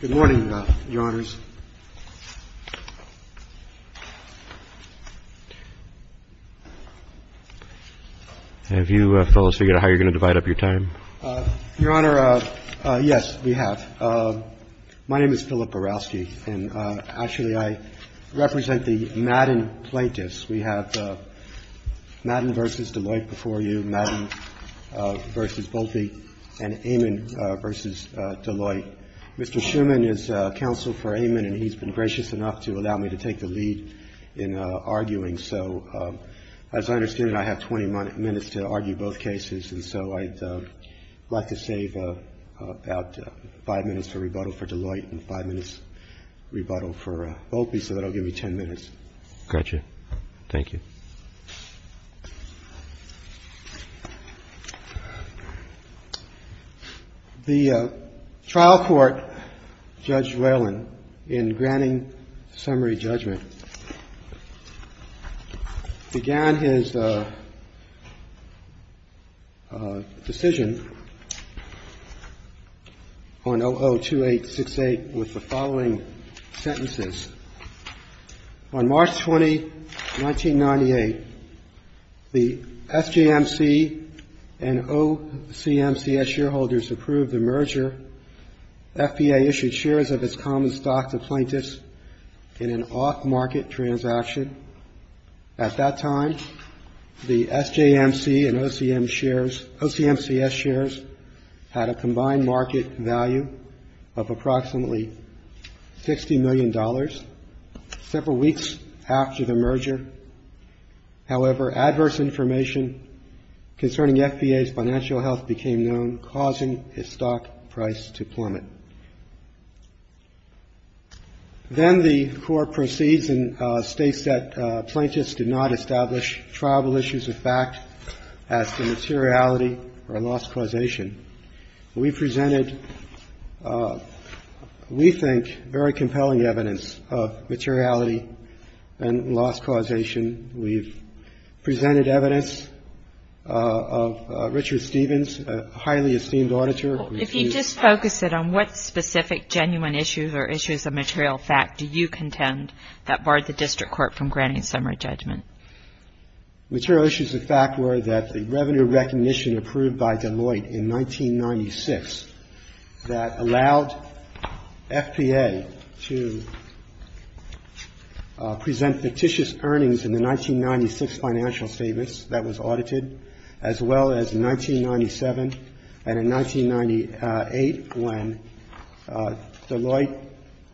Good morning, Your Honors. Have you fellows figured out how you're going to divide up your time? Your Honor, yes, we have. My name is Philip Borowski, and actually I represent the Madden plaintiffs. We have Madden v. Deloitte before you, Madden v. Boulpe, and Amin v. Deloitte. Mr. Shuman is counsel for Amin, and he's been gracious enough to allow me to take the lead in arguing. So as I understand it, I have 20 minutes to argue both cases, and so I'd like to save about five minutes for rebuttal for Deloitte and five minutes rebuttal for Boulpe, so that'll give me 10 minutes. Got you. Thank you. The trial court, Judge Whelan, in granting summary judgment, began his decision on OO-2868 with the following sentences. On March 20, 1998, the FJMC and OCMCS shareholders approved the merger. FBA issued shares of its common stock to plaintiffs in an off-market transaction. At that time, the SJMC and OCMCS shares had a combined market value of approximately $60 million, Then the Court proceeds and states that plaintiffs did not establish tribal issues of fact as to materiality or loss causation. We presented, we think, very compelling evidence of materiality and loss causation. We've presented evidence of Richard Stevens, a highly esteemed auditor. If you just focus it on what specific genuine issues or issues of material fact do you contend that barred the district court from granting summary judgment? Material issues of fact were that the revenue recognition approved by Deloitte in 1996 that allowed FBA to present fictitious earnings in the 1996 financial statements that was audited, as well as in 1997 and in 1998, when Deloitte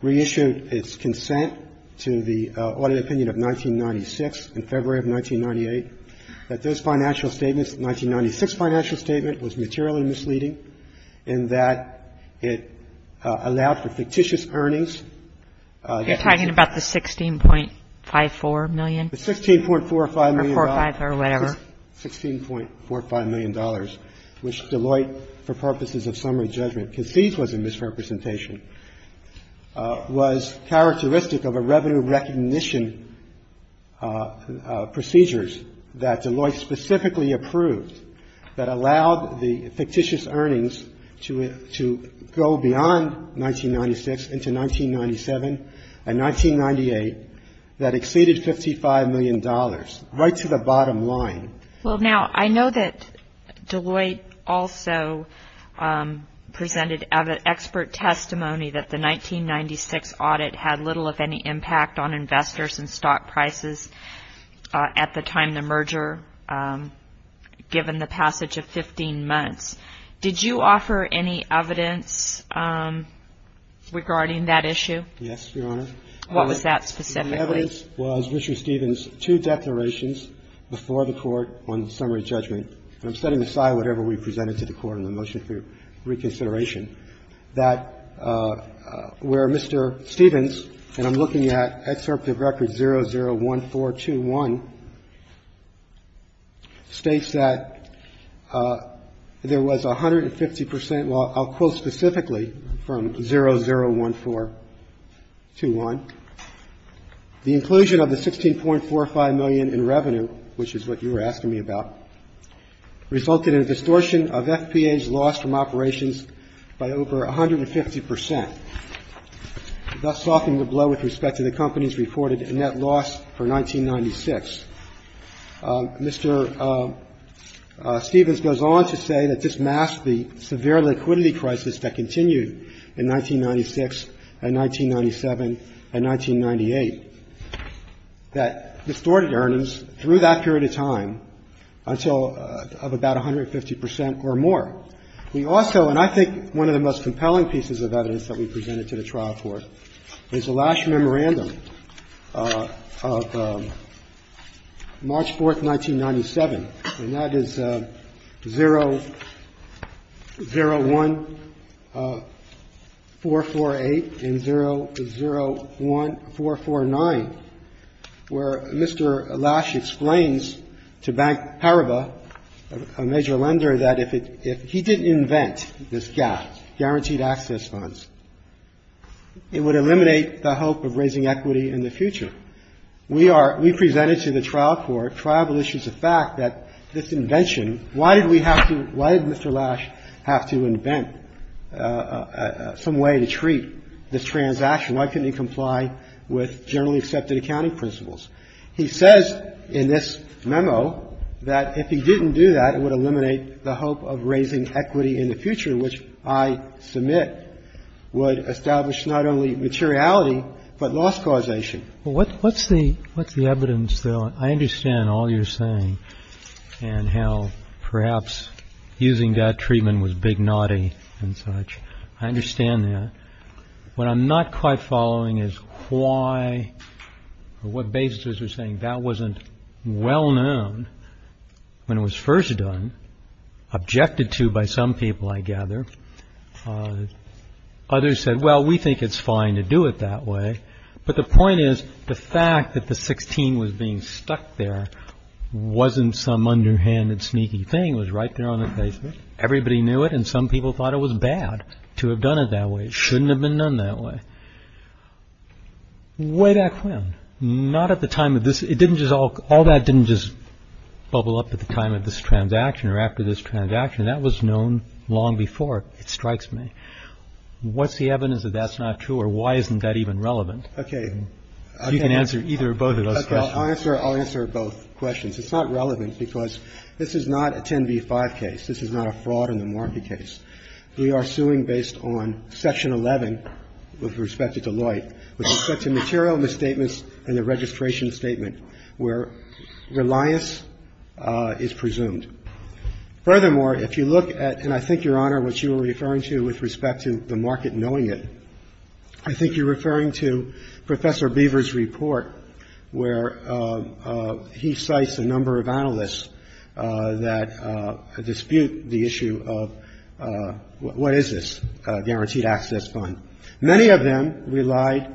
reissued its consent to the audit opinion of 1996 in February of 1998, that those financial statements, the 1996 financial statement, was materially misleading in that it allowed for fictitious earnings. You're talking about the $16.54 million? The $16.45 million. Or 45 or whatever. $16.45 million, which Deloitte, for purposes of summary judgment, concedes was a misrepresentation, was characteristic of a revenue recognition procedures that Deloitte specifically approved that allowed the fictitious earnings to go beyond 1996 into 1997 and 1998 that exceeded $55 million, right to the bottom line. Well, now, I know that Deloitte also presented expert testimony that the 1996 audit had little if any impact on investors and stock prices at the time the merger, given the passage of 15 months. Did you offer any evidence regarding that issue? Yes, Your Honor. What was that specifically? The evidence was Richard Stevens' two declarations before the Court on summary judgment. And I'm setting aside whatever we presented to the Court in the motion for reconsideration, that where Mr. Stevens, and I'm looking at excerpt of record 001421, states that there was 150 percent, well, I'll quote specifically from 001421. The inclusion of the $16.45 million in revenue, which is what you were asking me about, resulted in a distortion of FPA's loss from operations by over 150 percent, thus softening the blow with respect to the company's reported net loss for 1996. Mr. Stevens goes on to say that this masked the severe liquidity crisis that continued in 1996 and 1997 and 1998, that distorted earnings through that period of time until about 150 percent or more. We also, and I think one of the most compelling pieces of evidence that we presented to the trial court, is the last memorandum of March 4th, 1997, and that is 001448 and 001449, where Mr. Lash explains to Bank Paribas, a major lender, that if he didn't invent this gap, guaranteed access funds, it would eliminate the hope of raising equity in the future. We are we presented to the trial court, tribal issues of fact, that this invention Why did we have to, why did Mr. Lash have to invent some way to treat this transaction? Why couldn't he comply with generally accepted accounting principles? He says in this memo that if he didn't do that, it would eliminate the hope of raising equity in the future, which I submit would establish not only materiality, but loss causation. What's the evidence, though? I understand all you're saying and how perhaps using that treatment was big naughty and such. I understand that. What I'm not quite following is why or what basis are you saying that wasn't well known when it was first done, objected to by some people, I gather. Others said, well, we think it's fine to do it that way. But the point is the fact that the 16 was being stuck there wasn't some underhanded sneaky thing. It was right there on the face of it. Everybody knew it. And some people thought it was bad to have done it that way. It shouldn't have been done that way. Way back when, not at the time of this. It didn't just all that didn't just bubble up at the time of this transaction or after this transaction. That was known long before. It strikes me. What's the evidence that that's not true or why isn't that even relevant? Okay. You can answer either or both of those questions. I'll answer both questions. It's not relevant because this is not a 10 v. 5 case. This is not a fraud in the market case. We are suing based on Section 11 with respect to Deloitte with respect to material misstatements and the registration statement where reliance is presumed. Furthermore, if you look at, and I think, Your Honor, what you were referring to with respect to the market knowing it, I think you're referring to Professor Beaver's report where he cites a number of analysts that dispute the issue of what is this guaranteed access fund. Many of them relied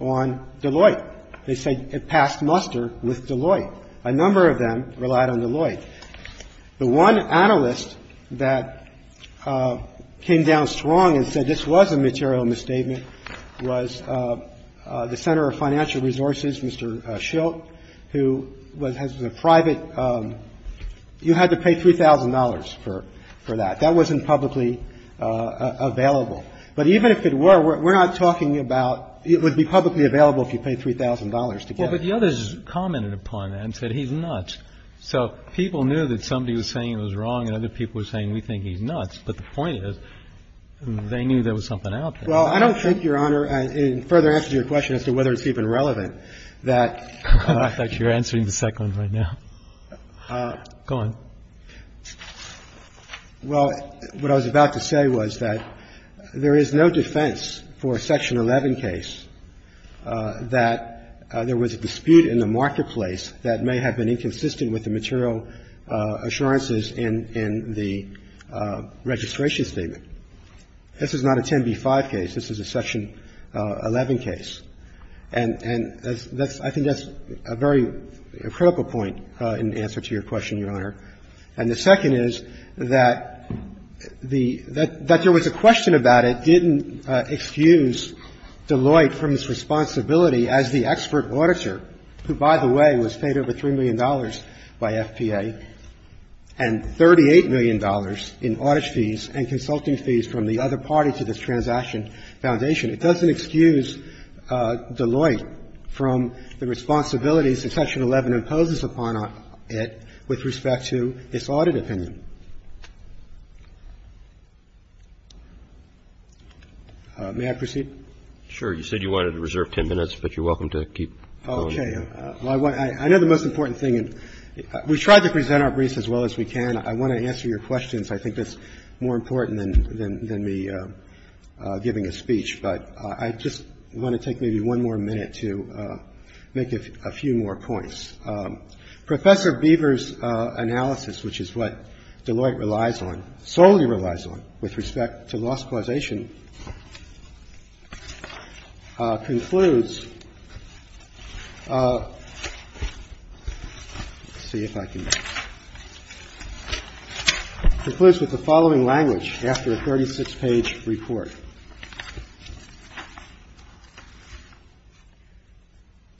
on Deloitte. They said it passed muster with Deloitte. A number of them relied on Deloitte. The one analyst that came down strong and said this was a material misstatement was the center of financial resources, Mr. Schilt, who has a private you had to pay $3,000 for that. That wasn't publicly available. But even if it were, we're not talking about it would be publicly available if you paid $3,000 to get it. So the others commented upon that and said he's nuts. So people knew that somebody was saying it was wrong and other people were saying we think he's nuts, but the point is they knew there was something out there. Well, I don't think, Your Honor, in further answer to your question as to whether it's even relevant, that you're answering the second one right now. Go on. Well, what I was about to say was that there is no defense for a Section 11 case that there was a dispute in the marketplace that may have been inconsistent with the material assurances in the registration statement. This is not a 10b-5 case. This is a Section 11 case. And I think that's a very critical point in answer to your question, Your Honor. And the second is that there was a question about it didn't excuse Deloitte from his responsibility as the expert auditor who, by the way, was paid over $3 million by FPA and $38 million in audit fees and consulting fees from the other party to this transaction foundation. It doesn't excuse Deloitte from the responsibilities that Section 11 imposes upon it with respect to his audit opinion. May I proceed? Sure. You said you wanted to reserve 10 minutes, but you're welcome to keep going. Okay. I know the most important thing. We've tried to present our briefs as well as we can. I want to answer your questions. I think that's more important than me giving a speech. But I just want to take maybe one more minute to make a few more points. Professor Beaver's analysis, which is what Deloitte relies on, solely relies on with respect to loss causation, concludes, let's see if I can, concludes with the following language after a 36-page report.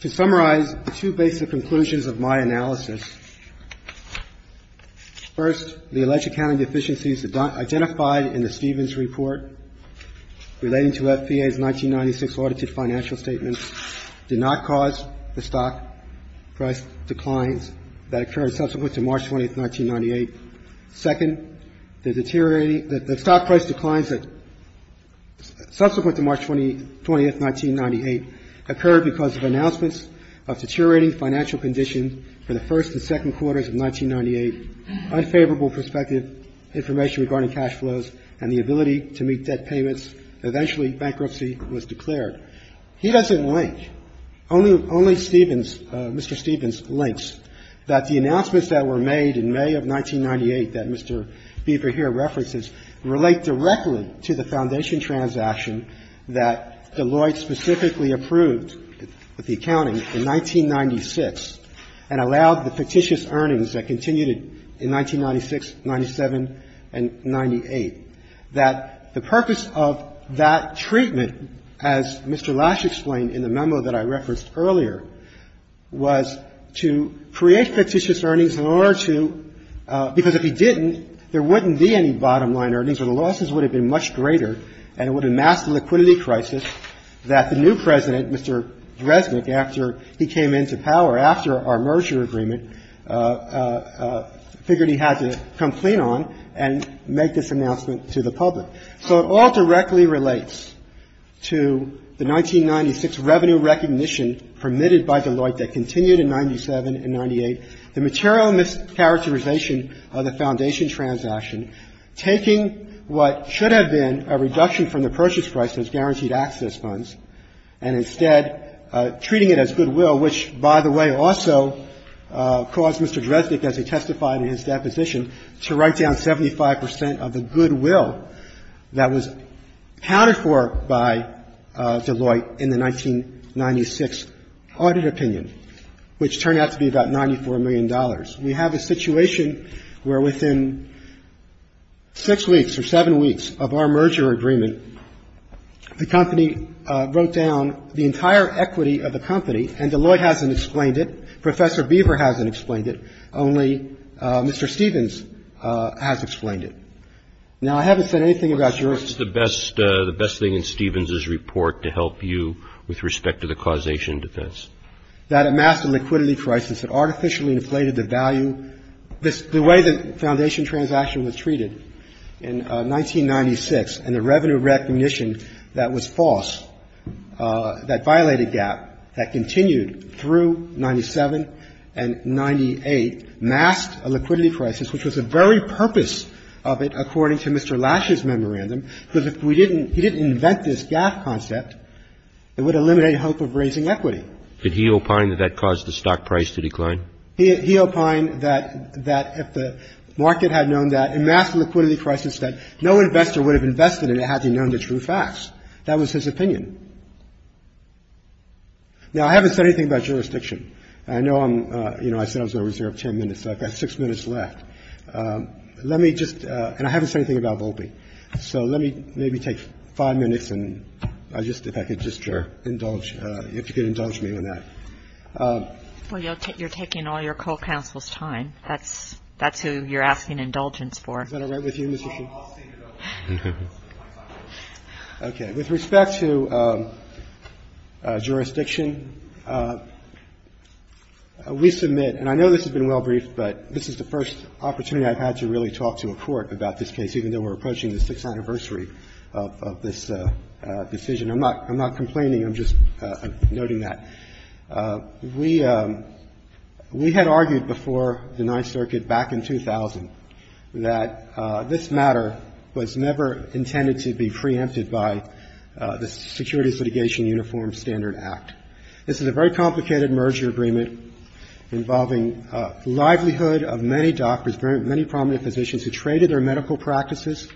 To summarize the two basic conclusions of my analysis, first, the alleged accounting deficiencies identified in the Stevens report relating to FPA's 1996 audited financial statements did not cause the stock price declines that occurred subsequent to March 20th, 1998. Second, the deteriorating, the stock price declines that, subsequent to March 20th, 1998, occurred because of announcements of deteriorating financial conditions for the first and second quarters of 1998, unfavorable prospective information regarding cash flows and the ability to meet debt payments. Eventually bankruptcy was declared. He doesn't link. Only Stevens, Mr. Stevens links that the announcements that were made in May of 1998 that Mr. Beaver here references relate directly to the foundation transaction that Deloitte specifically approved of the accounting in 1996 and allowed the fictitious earnings that continued in 1996, 97, and 98, that the purpose of that treatment, as Mr. Lash explained in the memo that I referenced earlier, was to create fictitious earnings in order to – because if he didn't, there wouldn't be any bottom-line earnings, or the losses would have been much greater, and it would have amassed the liquidity crisis that the new President, Mr. Dresnick, after he came into power after our merger agreement, figured he had to complain on and make this announcement to the public. So it all directly relates to the 1996 revenue recognition permitted by Deloitte that continued in 97 and 98, the material mischaracterization of the foundation transaction, taking what should have been a reduction from the purchase prices, guaranteed access funds, and instead treating it as goodwill, which, by the way, also caused Mr. Dresnick, as he testified in his deposition, to write down 75 percent of the goodwill that was pounded for by Deloitte in the 1996 audit opinion, which turned out to be about $94 million. We have a situation where within six weeks or seven weeks of our merger agreement, the company wrote down the entire equity of the company, and Deloitte hasn't explained it, Professor Beaver hasn't explained it, only Mr. Stevens has explained it. Now, I haven't said anything about your – What's the best thing in Stevens' report to help you with respect to the causation defense? If you look at the foundation transaction, you see that it's a liquidity crisis. That it masked a liquidity crisis that artificially inflated the value, the way the foundation transaction was treated in 1996 and the revenue recognition that was false, that violated GAAF, that continued through 97 and 98, masked a liquidity crisis, which was the very purpose of it according to Mr. Lash's memorandum, because if we didn't – he didn't invent this GAAF concept, it would eliminate hope of raising equity. Did he opine that that caused the stock price to decline? He opined that if the market had known that, it masked a liquidity crisis that no investor would have invested in it had he known the true facts. That was his opinion. Now, I haven't said anything about jurisdiction. I know I'm – you know, I said I was going to reserve ten minutes, so I've got six minutes left. Let me just – and I haven't said anything about Volpe. So let me maybe take five minutes and I just – if I could just indulge – if you could indulge me on that. Well, you're taking all your co-counsel's time. That's who you're asking indulgence for. Is that all right with you, Mr. Chief? I'll stand it up. Okay. With respect to jurisdiction, we submit – and I know this has been well briefed, but this is the first opportunity I've had to really talk to a court about this case, even though we're approaching the sixth anniversary of this decision. I'm not – I'm not complaining. I'm just noting that. We – we had argued before the Ninth Circuit back in 2000 that this matter was never intended to be preempted by the Security Litigation Uniform Standard Act. This is a very complicated merger agreement involving the livelihood of many doctors, many prominent physicians who traded their medical practices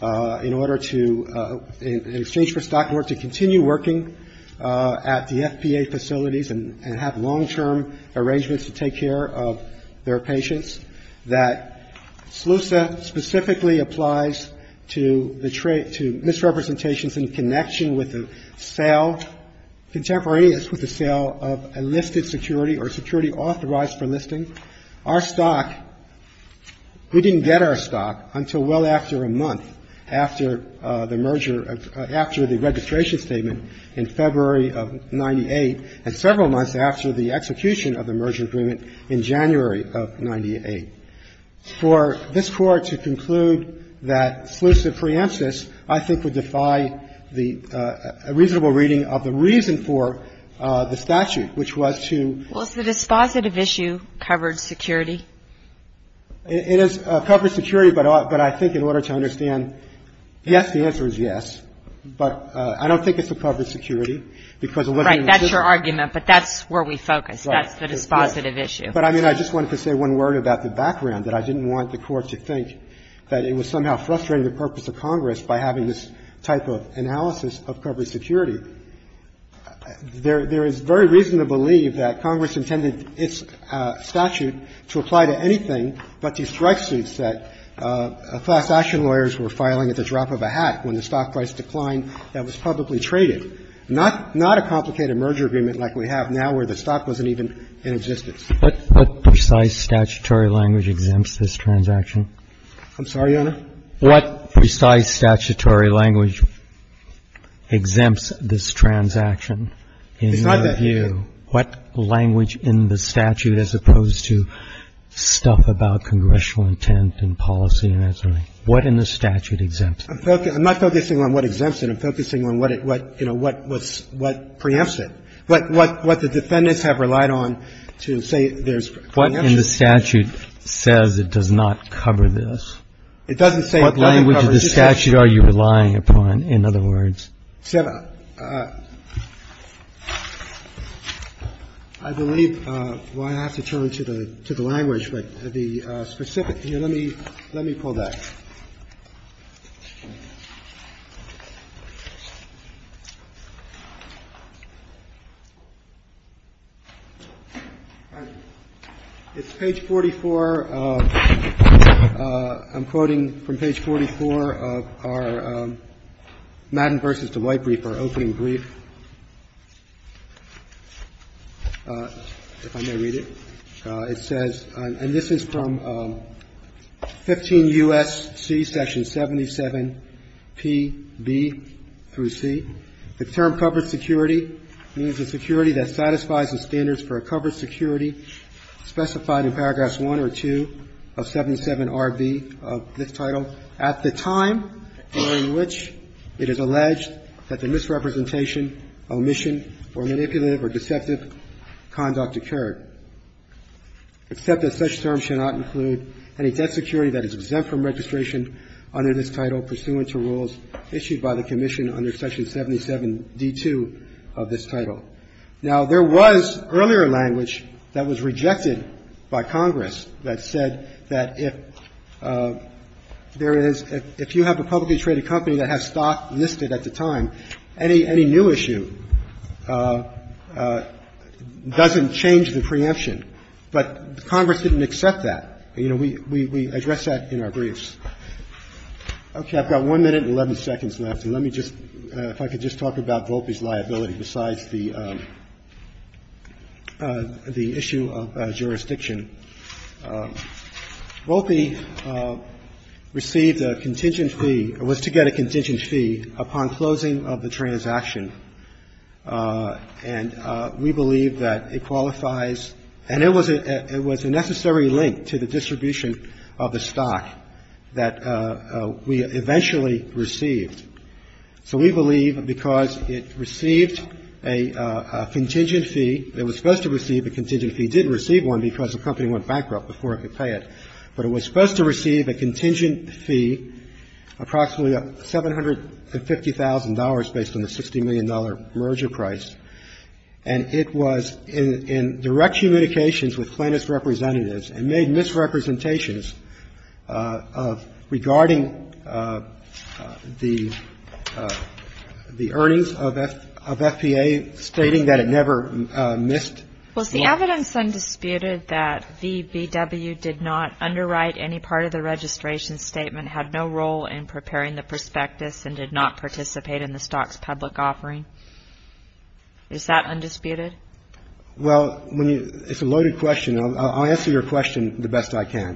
in order to – in exchange for stock in order to continue working at the FPA facilities and have long-term arrangements to take care of their patients, that SLUSA specifically applies to the misrepresentations in connection with the sale – contemporaneous with the sale of a listed security or security authorized for listing. Our stock – we didn't get our stock until well after a month after the merger – after the registration statement in February of 98 and several months after the execution of the merger agreement in January of 98. For this Court to conclude that SLUSA preempts this, I think, would defy the reasonable reading of the reason for the statute, which was to – Well, is the dispositive issue covered security? It is covered security, but I think in order to understand – yes, the answer is yes. But I don't think it's a covered security, because the living – Right. That's your argument, but that's where we focus. Right. That's the dispositive issue. But, I mean, I just wanted to say one word about the background, that I didn't want the Court to think that it was somehow frustrating the purpose of Congress by having this type of analysis of covered security. There is very reason to believe that Congress intended its statute to apply to anything but the strike suits that class action lawyers were filing at the drop of a hat when the stock price declined that was publicly traded, not a complicated merger agreement like we have now where the stock wasn't even in existence. What precise statutory language exempts this transaction? I'm sorry, Your Honor? What precise statutory language exempts this transaction in your view? What language in the statute as opposed to stuff about congressional intent and policy and that sort of thing? What in the statute exempts it? I'm not focusing on what exempts it. I'm focusing on what, you know, what preempts it. What the defendants have relied on to say there's preemption. What in the statute says it does not cover this? It doesn't say it doesn't cover it. What language of the statute are you relying upon, in other words? I believe, well, I have to turn to the language, but the specific. Let me pull that. It's page 44. I'm quoting from page 44 of our Madden v. Deloitte brief, our opening brief. If I may read it. It says, and this is from 15 U.S.C. section 77PB through C. The term covered security means a security that satisfies the standards for a covered security specified in paragraphs 1 or 2 of 77RB of this title at the time during which it is alleged that the misrepresentation, omission, or manipulative or deceptive conduct occurred, except that such terms should not include any debt security that is exempt from registration under this title pursuant to rules issued by the commission under section 77D2 of this title. Now, there was earlier language that was rejected by Congress that said that if there is – if you have a publicly traded company that has stock listed at the time, any new issue doesn't change the preemption. But Congress didn't accept that. You know, we address that in our briefs. Okay. I've got 1 minute and 11 seconds left. Let me just – if I could just talk about Volpe's liability besides the issue of jurisdiction. Volpe received a contingent fee – was to get a contingent fee upon closing of the transaction. And we believe that it qualifies – and it was a necessary link to the distribution of the stock that we eventually received. So we believe because it received a contingent fee – it was supposed to receive a contingent fee. It didn't receive one because the company went bankrupt before it could pay it. But it was supposed to receive a contingent fee, approximately $750,000 based on the $60 million merger price. And it was in direct communications with plaintiffs' representatives and made misrepresentations of – regarding the earnings of FPA, stating that it never missed – Was the evidence undisputed that VBW did not underwrite any part of the registration statement, had no role in preparing the prospectus, and did not participate in the stock's public offering? Is that undisputed? Well, when you – it's a loaded question. I'll answer your question the best I can.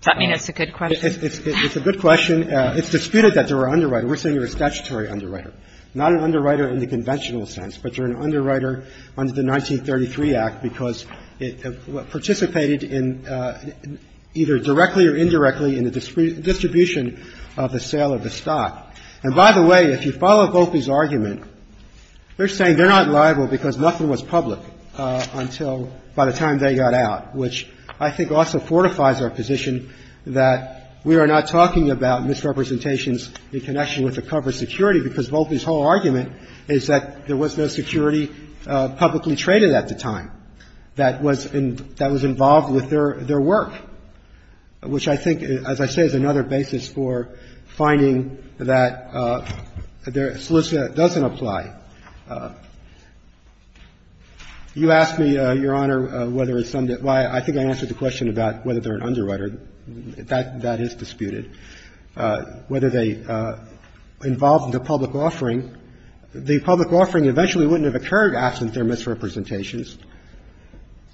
Does that mean it's a good question? It's a good question. It's disputed that there were underwriters. We're saying there were statutory underwriters, not an underwriter in the conventional sense, but an underwriter under the 1933 Act because it participated in either directly or indirectly in the distribution of the sale of the stock. And by the way, if you follow Volpe's argument, they're saying they're not liable because nothing was public until – by the time they got out, which I think also fortifies our position that we are not talking about misrepresentations in connection with the cover security because Volpe's whole argument is that there was no security publicly traded at the time that was – that was involved with their work, which I think, as I say, is another basis for finding that their solicitation doesn't apply. You asked me, Your Honor, whether it's some – I think I answered the question about whether they're an underwriter. That is disputed. Whether they involved in the public offering. The public offering eventually wouldn't have occurred absent their misrepresentations.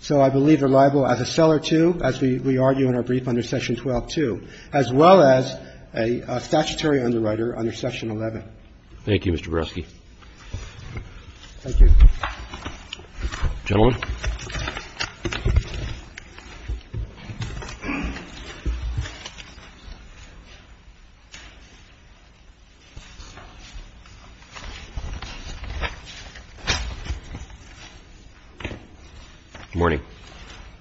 So I believe they're liable as a seller, too, as we argue in our brief under Section 12-2, as well as a statutory underwriter under Section 11. Thank you, Mr. Barofsky. Thank you. Gentlemen. Good morning.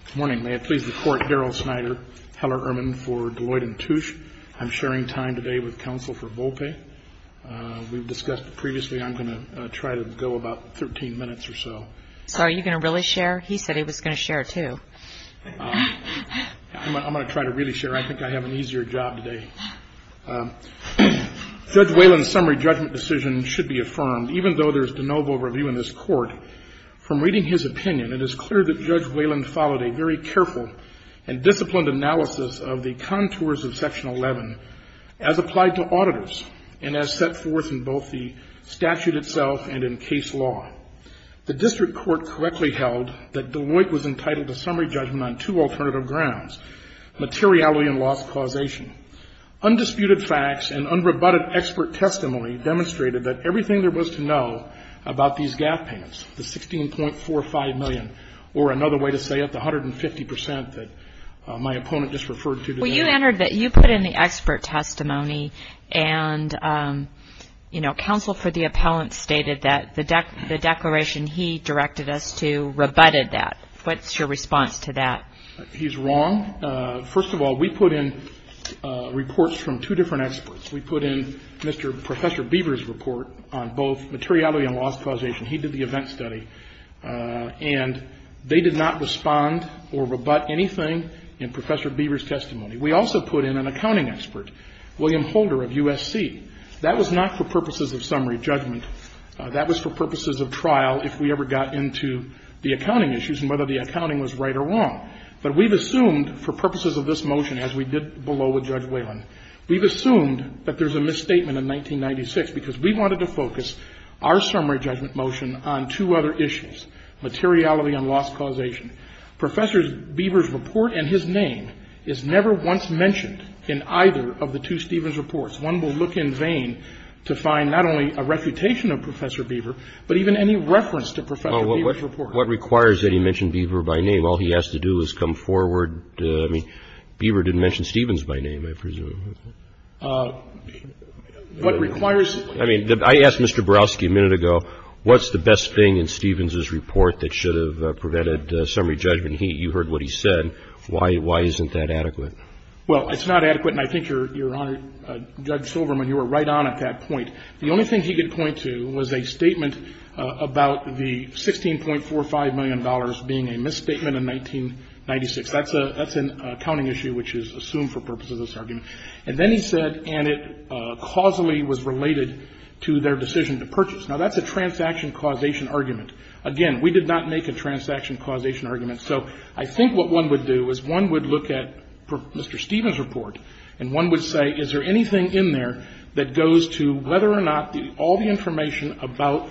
Good morning. May it please the Court, Daryl Snyder, Heller Erman for Deloitte & Touche. I'm sharing time today with counsel for Volpe. We've discussed previously. I'm going to try to go about 13 minutes or so. So are you going to really share? He said he was going to share, too. I'm going to try to really share. I think I have an easier job today. Judge Wayland's summary judgment decision should be affirmed. Even though there's de novo review in this Court, from reading his opinion, it is clear that Judge Wayland followed a very careful and disciplined analysis of the contours of Section 11 as applied to auditors and as set forth in both the statute itself and in case law. The district court correctly held that Deloitte was entitled to summary judgment on two alternative grounds, materiality and loss causation. Undisputed facts and unrebutted expert testimony demonstrated that everything there was to know about these GAF payments, the $16.45 million, or another way to say it, the 150 percent that my opponent just referred to today. So you entered that you put in the expert testimony and, you know, counsel for the appellant stated that the declaration he directed us to rebutted that. What's your response to that? He's wrong. First of all, we put in reports from two different experts. We put in Mr. Professor Beaver's report on both materiality and loss causation. He did the event study. And they did not respond or rebut anything in Professor Beaver's testimony. We also put in an accounting expert, William Holder of USC. That was not for purposes of summary judgment. That was for purposes of trial if we ever got into the accounting issues and whether the accounting was right or wrong. But we've assumed for purposes of this motion, as we did below with Judge Wayland, we've assumed that there's a misstatement in 1996 because we wanted to focus our materiality on loss causation. Professor Beaver's report and his name is never once mentioned in either of the two Stevens reports. One will look in vain to find not only a reputation of Professor Beaver but even any reference to Professor Beaver's report. What requires that he mention Beaver by name? All he has to do is come forward. I mean, Beaver didn't mention Stevens by name, I presume. What requires... I mean, I asked Mr. Borowski a minute ago, what's the best thing in Stevens' report that should have prevented summary judgment? You heard what he said. Why isn't that adequate? Well, it's not adequate, and I think, Your Honor, Judge Silverman, you were right on at that point. The only thing he could point to was a statement about the $16.45 million being a misstatement in 1996. That's an accounting issue which is assumed for purposes of this argument. And then he said, and it causally was related to their decision to purchase. Now, that's a transaction causation argument. Again, we did not make a transaction causation argument. So I think what one would do is one would look at Mr. Stevens' report and one would say, is there anything in there that goes to whether or not all the information about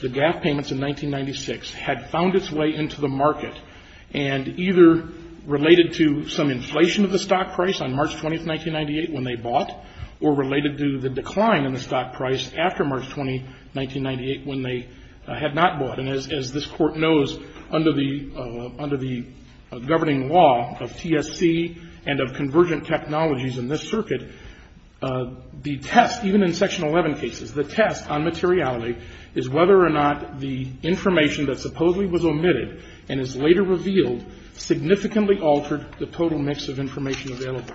the GAF payments in 1996 had found its way into the market and either related to some inflation of the stock price on March 20, 1998, when they bought, or related to the decline in the stock price after March 20, 1998, when they had not bought. And as this Court knows, under the governing law of TSC and of convergent technologies in this circuit, the test, even in Section 11 cases, the test on materiality is whether or not the information that supposedly was omitted and is later revealed significantly altered the total mix of information available.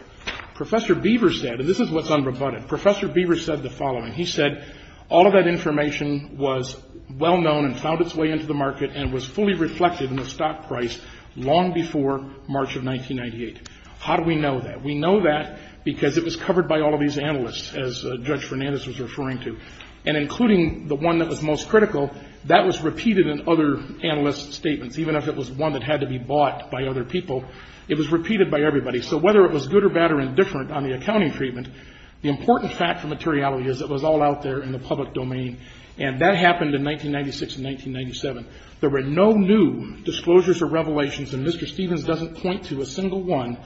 Professor Beaver said, and this is what's unrebutted, Professor Beaver said the following. He said all of that information was well known and found its way into the market and was fully reflected in the stock price long before March of 1998. How do we know that? We know that because it was covered by all of these analysts, as Judge Fernandez was referring to, and including the one that was most critical, that was repeated in other analysts' statements. Even if it was one that had to be bought by other people, it was repeated by everybody. So whether it was good or bad or indifferent on the accounting treatment, the important fact for materiality is it was all out there in the public domain. And that happened in 1996 and 1997. There were no new disclosures or revelations, and Mr. Stevens doesn't point to a single one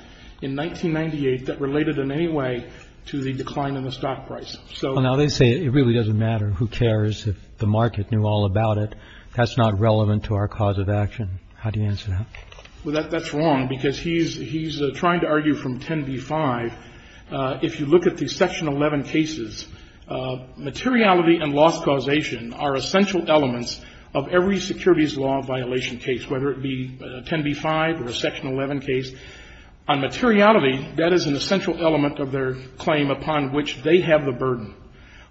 in 1998 that related in any way to the decline in the stock price. So now they say it really doesn't matter. Who cares if the market knew all about it? That's not relevant to our cause of action. How do you answer that? Well, that's wrong, because he's trying to argue from 10b-5. If you look at the Section 11 cases, materiality and loss causation are essential elements of every securities law violation case, whether it be 10b-5 or a Section 11 case. On materiality, that is an essential element of their claim upon which they have the burden.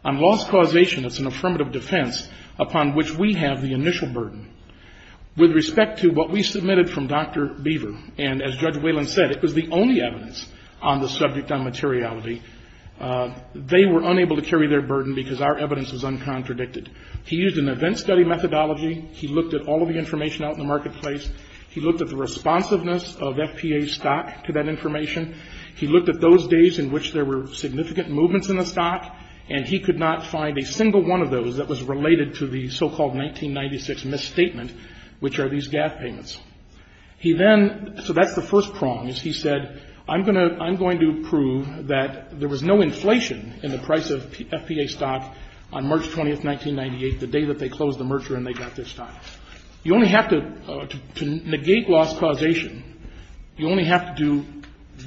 On loss causation, it's an affirmative defense upon which we have the initial burden. With respect to what we submitted from Dr. Beaver, and as Judge Whalen said, it was the only evidence on the subject on materiality, they were unable to carry their burden because our evidence was uncontradicted. He used an event study methodology. He looked at all of the information out in the marketplace. He looked at the responsiveness of FPA stock to that information. He looked at those days in which there were significant movements in the stock, and he could not find a single one of those that was related to the so-called 1996 misstatement, which are these GAF payments. He then so that's the first prongs. He said, I'm going to prove that there was no inflation in the price of FPA stock on March 20th, 1998, the day that they closed the merger and they got their stock. You only have to negate loss causation. You only have to do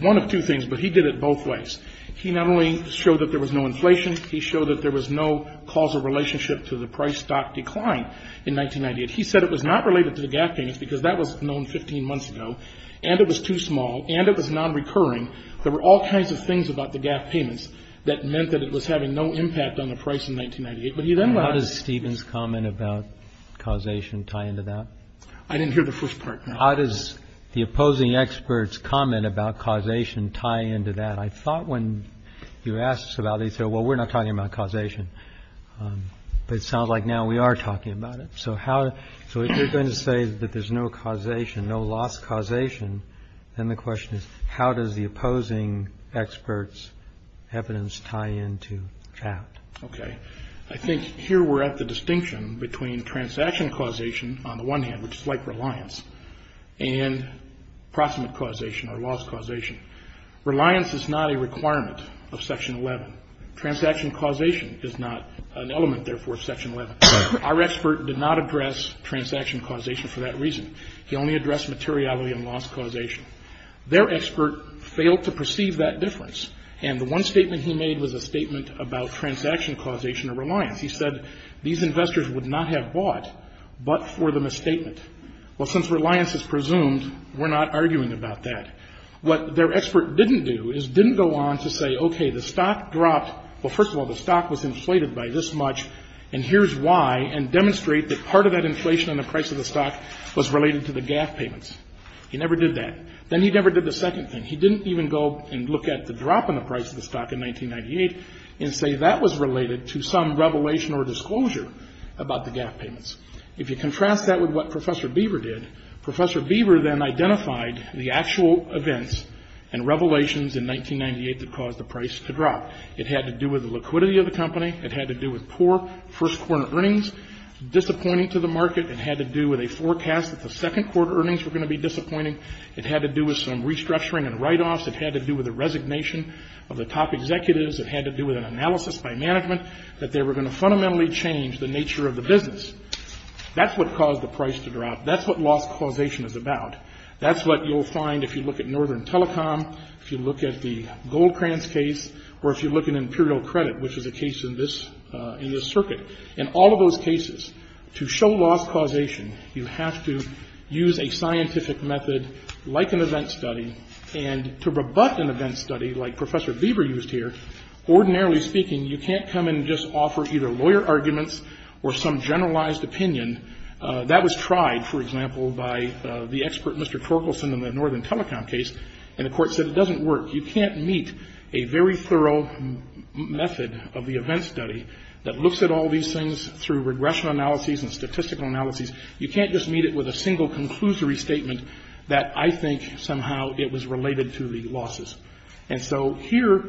one of two things, but he did it both ways. He not only showed that there was no inflation, he showed that there was no causal relationship to the price stock decline in 1998. He said it was not related to the GAF payments because that was known 15 months ago, and it was too small, and it was nonrecurring. There were all kinds of things about the GAF payments that meant that it was having no impact on the price in 1998. How does Stephen's comment about causation tie into that? I didn't hear the first part. How does the opposing experts' comment about causation tie into that? I thought when you asked about it, they said, well, we're not talking about causation. But it sounds like now we are talking about it. So if you're going to say that there's no causation, no loss causation, then the question is how does the opposing experts' evidence tie into that? Okay. I think here we're at the distinction between transaction causation on the one hand, which is like reliance, and proximate causation or loss causation. Reliance is not a requirement of Section 11. Transaction causation is not an element, therefore, of Section 11. Our expert did not address transaction causation for that reason. He only addressed materiality and loss causation. Their expert failed to perceive that difference, and the one statement he made was a statement about transaction causation or reliance. He said these investors would not have bought but for the misstatement. Well, since reliance is presumed, we're not arguing about that. What their expert didn't do is didn't go on to say, okay, the stock dropped. Well, first of all, the stock was inflated by this much, and here's why, and demonstrate that part of that inflation on the price of the stock was related to the GAF payments. He never did that. Then he never did the second thing. He didn't even go and look at the drop in the price of the stock in 1998 and say that was related to some revelation or disclosure about the GAF payments. If you contrast that with what Professor Beaver did, Professor Beaver then identified the actual events and revelations in 1998 that caused the price to drop. It had to do with the liquidity of the company. It had to do with poor first-quarter earnings disappointing to the market. It had to do with a forecast that the second-quarter earnings were going to be disappointing. It had to do with some restructuring and write-offs. It had to do with a resignation of the top executives. It had to do with an analysis by management that they were going to fundamentally change the nature of the business. That's what caused the price to drop. That's what loss causation is about. That's what you'll find if you look at Northern Telecom, if you look at the Goldcrans case, or if you look at Imperial Credit, which is a case in this circuit. In all of those cases, to show loss causation, you have to use a scientific method, like an event study, and to rebut an event study, like Professor Beaver used here, ordinarily speaking, you can't come and just offer either lawyer arguments or some generalized opinion. That was tried, for example, by the expert, Mr. Torkelson, in the Northern Telecom case, and the Court said it doesn't work. You can't meet a very thorough method of the event study that looks at all these things through regression analyses and statistical analyses. You can't just meet it with a single conclusory statement that I think somehow it was related to the losses. And so here,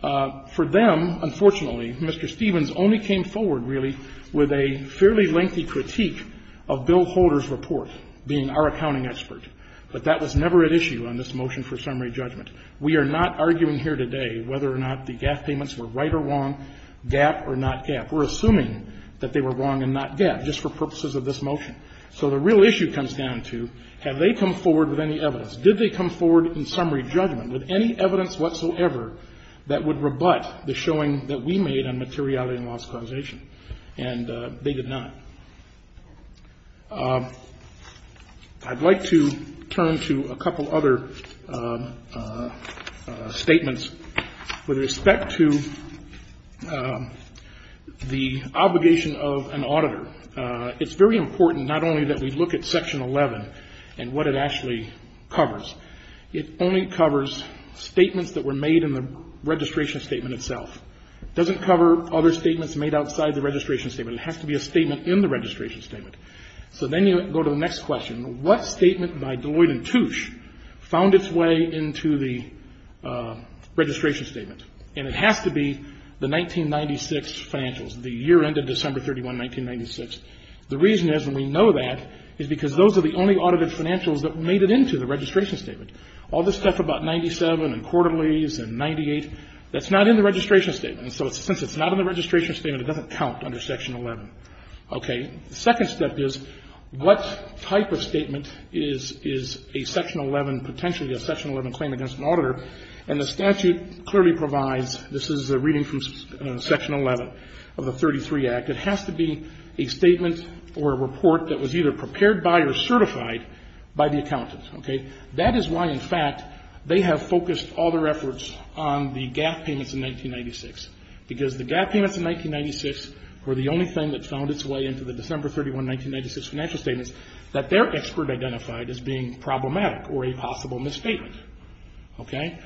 for them, unfortunately, Mr. Stevens only came forward, really, with a fairly lengthy critique of Bill Holder's report, being our accounting expert. But that was never at issue on this motion for summary judgment. We are not arguing here today whether or not the GAF payments were right or wrong, GAF or not GAF. We're assuming that they were wrong and not GAF, just for purposes of this motion. So the real issue comes down to, have they come forward with any evidence? Did they come forward in summary judgment with any evidence whatsoever that would rebut the showing that we made on materiality and loss causation? And they did not. I'd like to turn to a couple other statements with respect to the obligation of an auditor. It's very important not only that we look at Section 11 and what it actually covers. It only covers statements that were made in the registration statement itself. It doesn't cover other statements made outside the registration statement. It has to be a statement in the registration statement. So then you go to the next question. What statement by Deloitte and Touche found its way into the registration statement? And it has to be the 1996 financials, the year ended December 31, 1996. The reason is, and we know that, is because those are the only audited financials that made it into the registration statement. All this stuff about 97 and quarterlies and 98, that's not in the registration statement. And so since it's not in the registration statement, it doesn't count under Section 11. Okay. The second step is, what type of statement is a Section 11, potentially a Section 11 claim against an auditor? And the statute clearly provides, this is a reading from Section 11 of the 33 Act, it has to be a statement or a report that was either prepared by or certified by the accountant. Okay. That is why, in fact, they have focused all their efforts on the GAF payments in 1996, because the GAF payments in 1996 were the only thing that found its way into the December 31, 1996 financial statements that their expert identified as being problematic or a possible misstatement. Okay.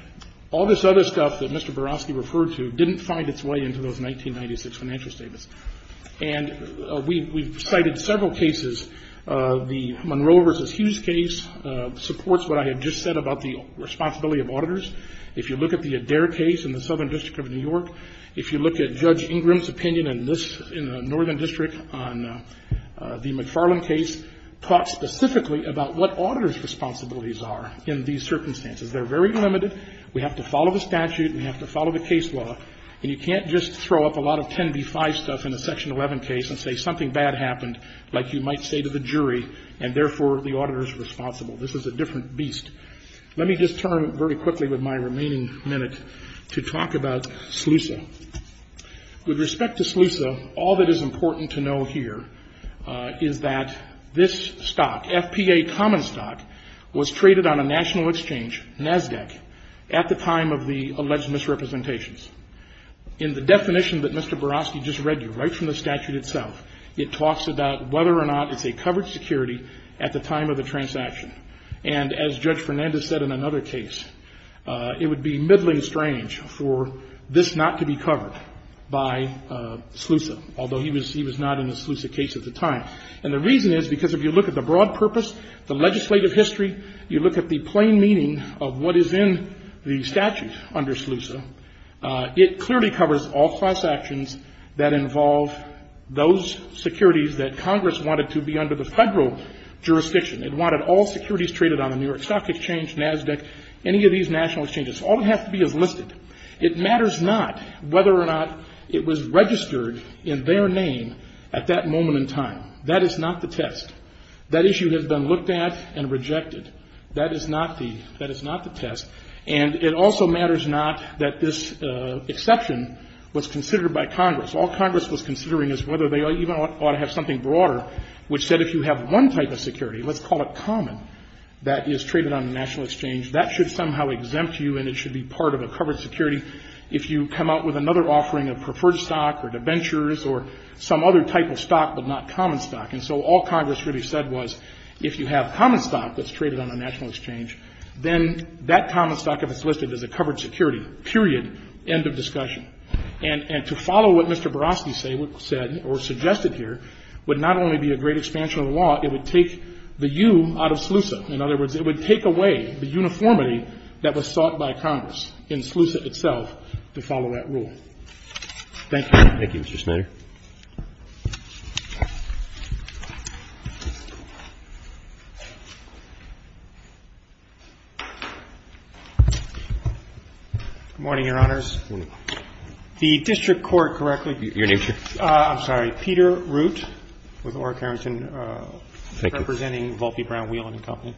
All this other stuff that Mr. Barofsky referred to didn't find its way into those 1996 financial statements. And we've cited several cases. The Monroe v. Hughes case supports what I have just said about the responsibility of auditors. If you look at the Adair case in the Southern District of New York, if you look at Judge Ingram's opinion in this in the Northern District on the McFarland case, talks specifically about what auditors' responsibilities are in these circumstances. They're very limited. We have to follow the statute. We have to follow the case law. And you can't just throw up a lot of 10b-5 stuff in a Section 11 case and say something bad happened, like you might say to the jury, and therefore the auditor is responsible. This is a different beast. Let me just turn very quickly with my remaining minute to talk about SLUSA. With respect to SLUSA, all that is important to know here is that this stock, FPA common stock, was traded on a national exchange, NASDAQ, at the time of the alleged misrepresentations. In the definition that Mr. Barofsky just read you, right from the statute itself, it talks about whether or not it's a covered security at the time of the transaction. And as Judge Fernandez said in another case, it would be middling strange for this not to be covered by SLUSA, although he was not in the SLUSA case at the time. And the reason is because if you look at the broad purpose, the legislative history, you look at the plain meaning of what is in the statute under SLUSA, it clearly covers all class actions that involve those securities that Congress wanted to be under the federal jurisdiction. It wanted all securities traded on the New York Stock Exchange, NASDAQ, any of these national exchanges. All it has to be is listed. It matters not whether or not it was registered in their name at that moment in time. That is not the test. That issue has been looked at and rejected. That is not the test. And it also matters not that this exception was considered by Congress. All Congress was considering is whether they even ought to have something broader, which said if you have one type of security, let's call it common, that is traded on a national exchange, that should somehow exempt you and it should be part of a covered security. If you come out with another offering of preferred stock or debentures or some other type of stock but not common stock. And so all Congress really said was if you have common stock that's traded on a national exchange, then that common stock, if it's listed as a covered security, period, end of discussion. And to follow what Mr. Barofsky said or suggested here would not only be a great expansion of the law, it would take the U out of SLUSA. In other words, it would take away the uniformity that was sought by Congress in SLUSA itself to follow that rule. Thank you. Roberts. Thank you, Mr. Smither. Good morning, Your Honors. Good morning. The district court correctly. Your name, sir? I'm sorry. I'm Peter Root with Orrick Harrington. Thank you. Representing Volpe, Brown, Wheelan & Company.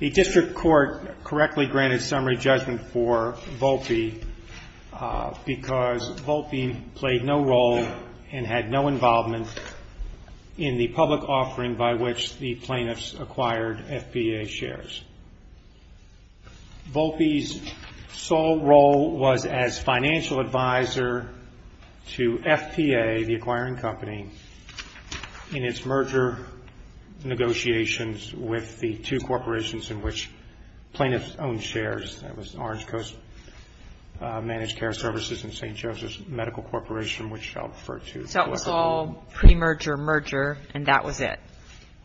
The district court correctly granted summary judgment for Volpe because Volpe played no role and had no involvement in the public offering by which the plaintiffs acquired FBA shares. Volpe's sole role was as financial advisor to FBA, the acquiring company, in its merger negotiations with the two corporations in which plaintiffs owned shares. That was Orange Coast Managed Care Services and St. Joseph's Medical Corporation, which I'll refer to. So it was all pre-merger merger and that was it?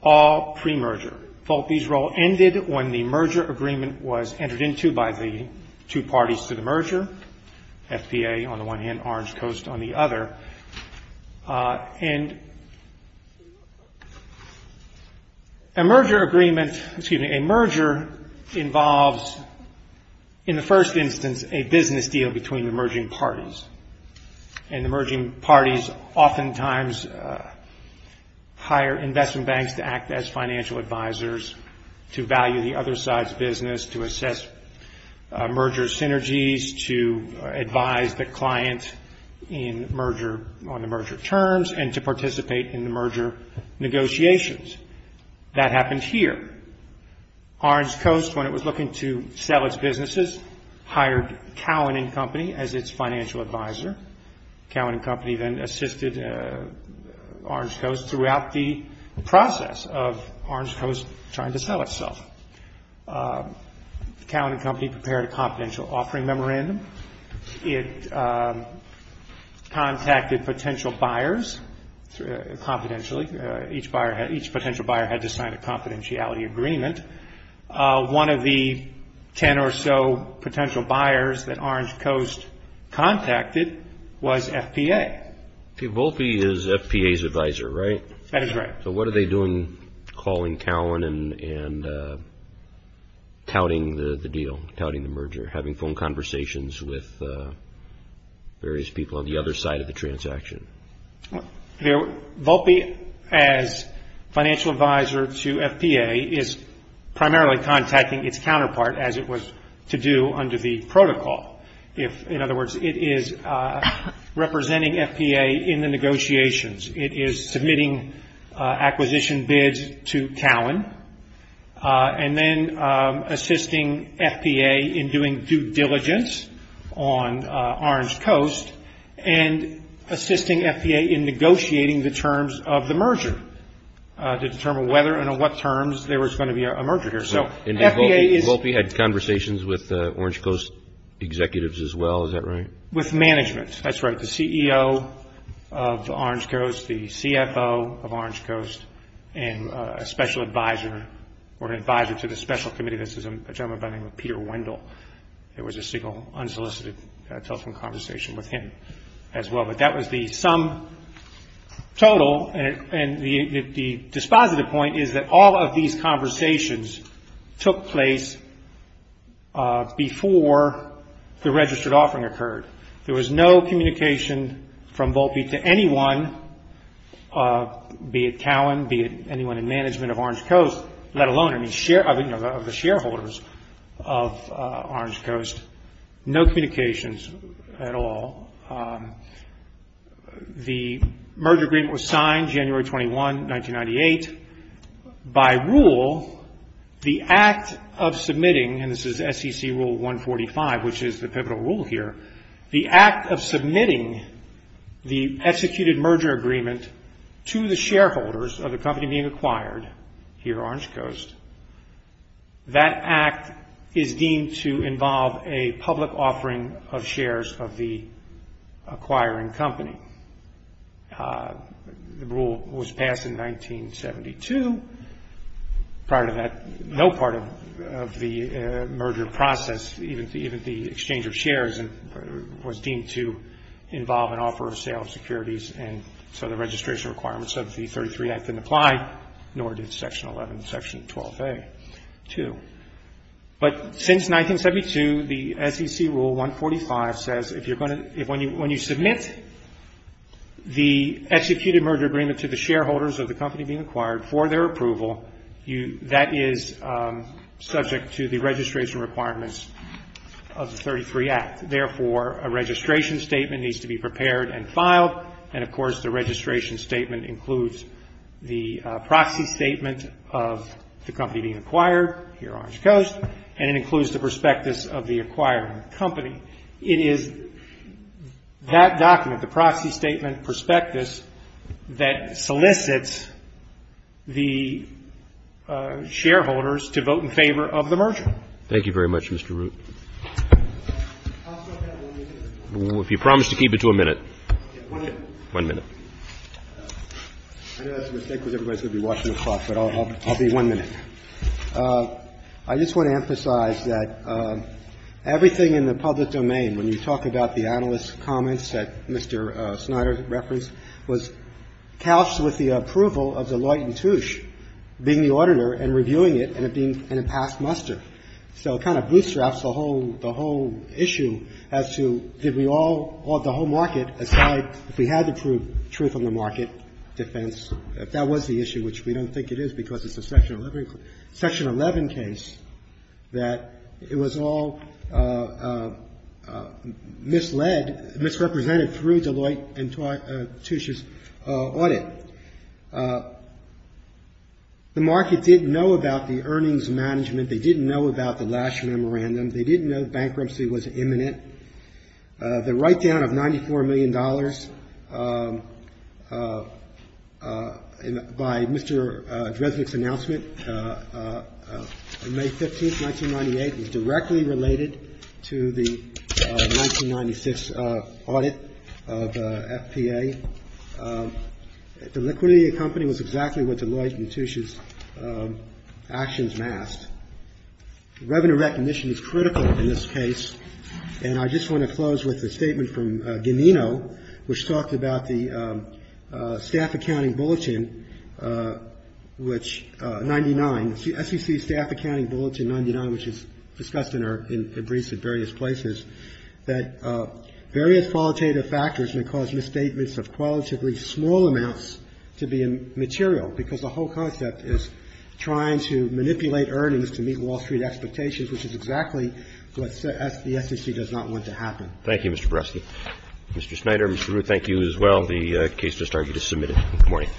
All pre-merger. Volpe's role ended when the merger agreement was entered into by the two parties to the merger, FBA on the one hand, Orange Coast on the other. And a merger agreement, excuse me, a merger involves, in the first instance, a business deal between the merging parties. And the merging parties oftentimes hire investment banks to act as financial advisors, to value the other side's business, to assess merger synergies, to advise the client on the merger terms, and to participate in the merger negotiations. That happened here. Orange Coast, when it was looking to sell its businesses, hired Cowan & Company as its financial advisor. Cowan & Company then assisted Orange Coast throughout the process of Orange Coast trying to sell itself. Cowan & Company prepared a confidential offering memorandum. It contacted potential buyers confidentially. Each potential buyer had to sign a confidentiality agreement. One of the ten or so potential buyers that Orange Coast contacted was FBA. Volpe is FBA's advisor, right? That is right. So what are they doing calling Cowan and touting the deal, touting the merger, having phone conversations with various people on the other side of the transaction? Volpe, as financial advisor to FBA, is primarily contacting its counterpart, as it was to do under the protocol. In other words, it is representing FBA in the negotiations. It is submitting acquisition bids to Cowan and then assisting FBA in doing due diligence on Orange Coast and assisting FBA in negotiating the terms of the merger to determine whether and on what terms there was going to be a merger here. And Volpe had conversations with Orange Coast executives as well, is that right? With management, that's right, the CEO of Orange Coast, the CFO of Orange Coast, and a special advisor or an advisor to the special committee. This is a gentleman by the name of Peter Wendell. It was a single, unsolicited telephone conversation with him as well. But that was the sum total. And the dispositive point is that all of these conversations took place before the registered offering occurred. There was no communication from Volpe to anyone, be it Cowan, be it anyone in management of Orange Coast, let alone the shareholders of Orange Coast. No communications at all. The merger agreement was signed January 21, 1998. By rule, the act of submitting, and this is SEC Rule 145, which is the pivotal rule here, the act of submitting the executed merger agreement to the shareholders of the company being acquired here at Orange Coast, that act is deemed to involve a public offering of shares of the acquiring company. The rule was passed in 1972. Prior to that, no part of the merger process, even the exchange of shares, was deemed to involve an offer of sale of securities, and so the registration requirements of the 33 Act didn't apply, nor did Section 11 and Section 12A too. But since 1972, the SEC Rule 145 says if you're going to, when you submit the executed merger agreement to the shareholders of the company being acquired for their approval, that is subject to the registration requirements of the 33 Act. Therefore, a registration statement needs to be prepared and filed, and of course the registration statement includes the proxy statement of the company being acquired here at Orange Coast, and it includes the prospectus of the acquiring company. It is that document, the proxy statement prospectus, that solicits the shareholders to vote in favor of the merger. Thank you very much, Mr. Root. I'll start that one minute. If you promise to keep it to a minute. One minute. One minute. I know that's a mistake because everybody's going to be watching the clock, but I'll be one minute. I just want to emphasize that everything in the public domain, when you talk about the analyst's comments that Mr. Snyder referenced, was couched with the approval of the Leutentuch being the auditor and reviewing it and it being in a past muster. So it kind of bootstraps the whole issue as to did we all, the whole market, aside if we had to prove truth on the market defense, if that was the issue, which we don't think it is because it's a Section 11 case, that it was all misled, misrepresented through Deloitte and Leutentuch's audit. The market didn't know about the earnings management. They didn't know about the last memorandum. They didn't know bankruptcy was imminent. The write-down of $94 million by Mr. Dresnick's announcement on May 15th, 1998, was directly related to the 1996 audit of FPA. The liquidity of the company was exactly what Deloitte and Leutentuch's actions masked. Revenue recognition is critical in this case. And I just want to close with a statement from Ganino, which talked about the Staff Accounting Bulletin, which 99, SEC Staff Accounting Bulletin 99, which is discussed in our briefs at various places, that various qualitative factors may cause misstatements of qualitatively small amounts to be immaterial because the whole concept is trying to manipulate earnings to meet Wall Street expectations, which is exactly what the SEC does not want to happen. Roberts. Thank you, Mr. Barreski. Mr. Schneider, Mr. Rood, thank you as well. The case just started. You just submitted it. Good morning.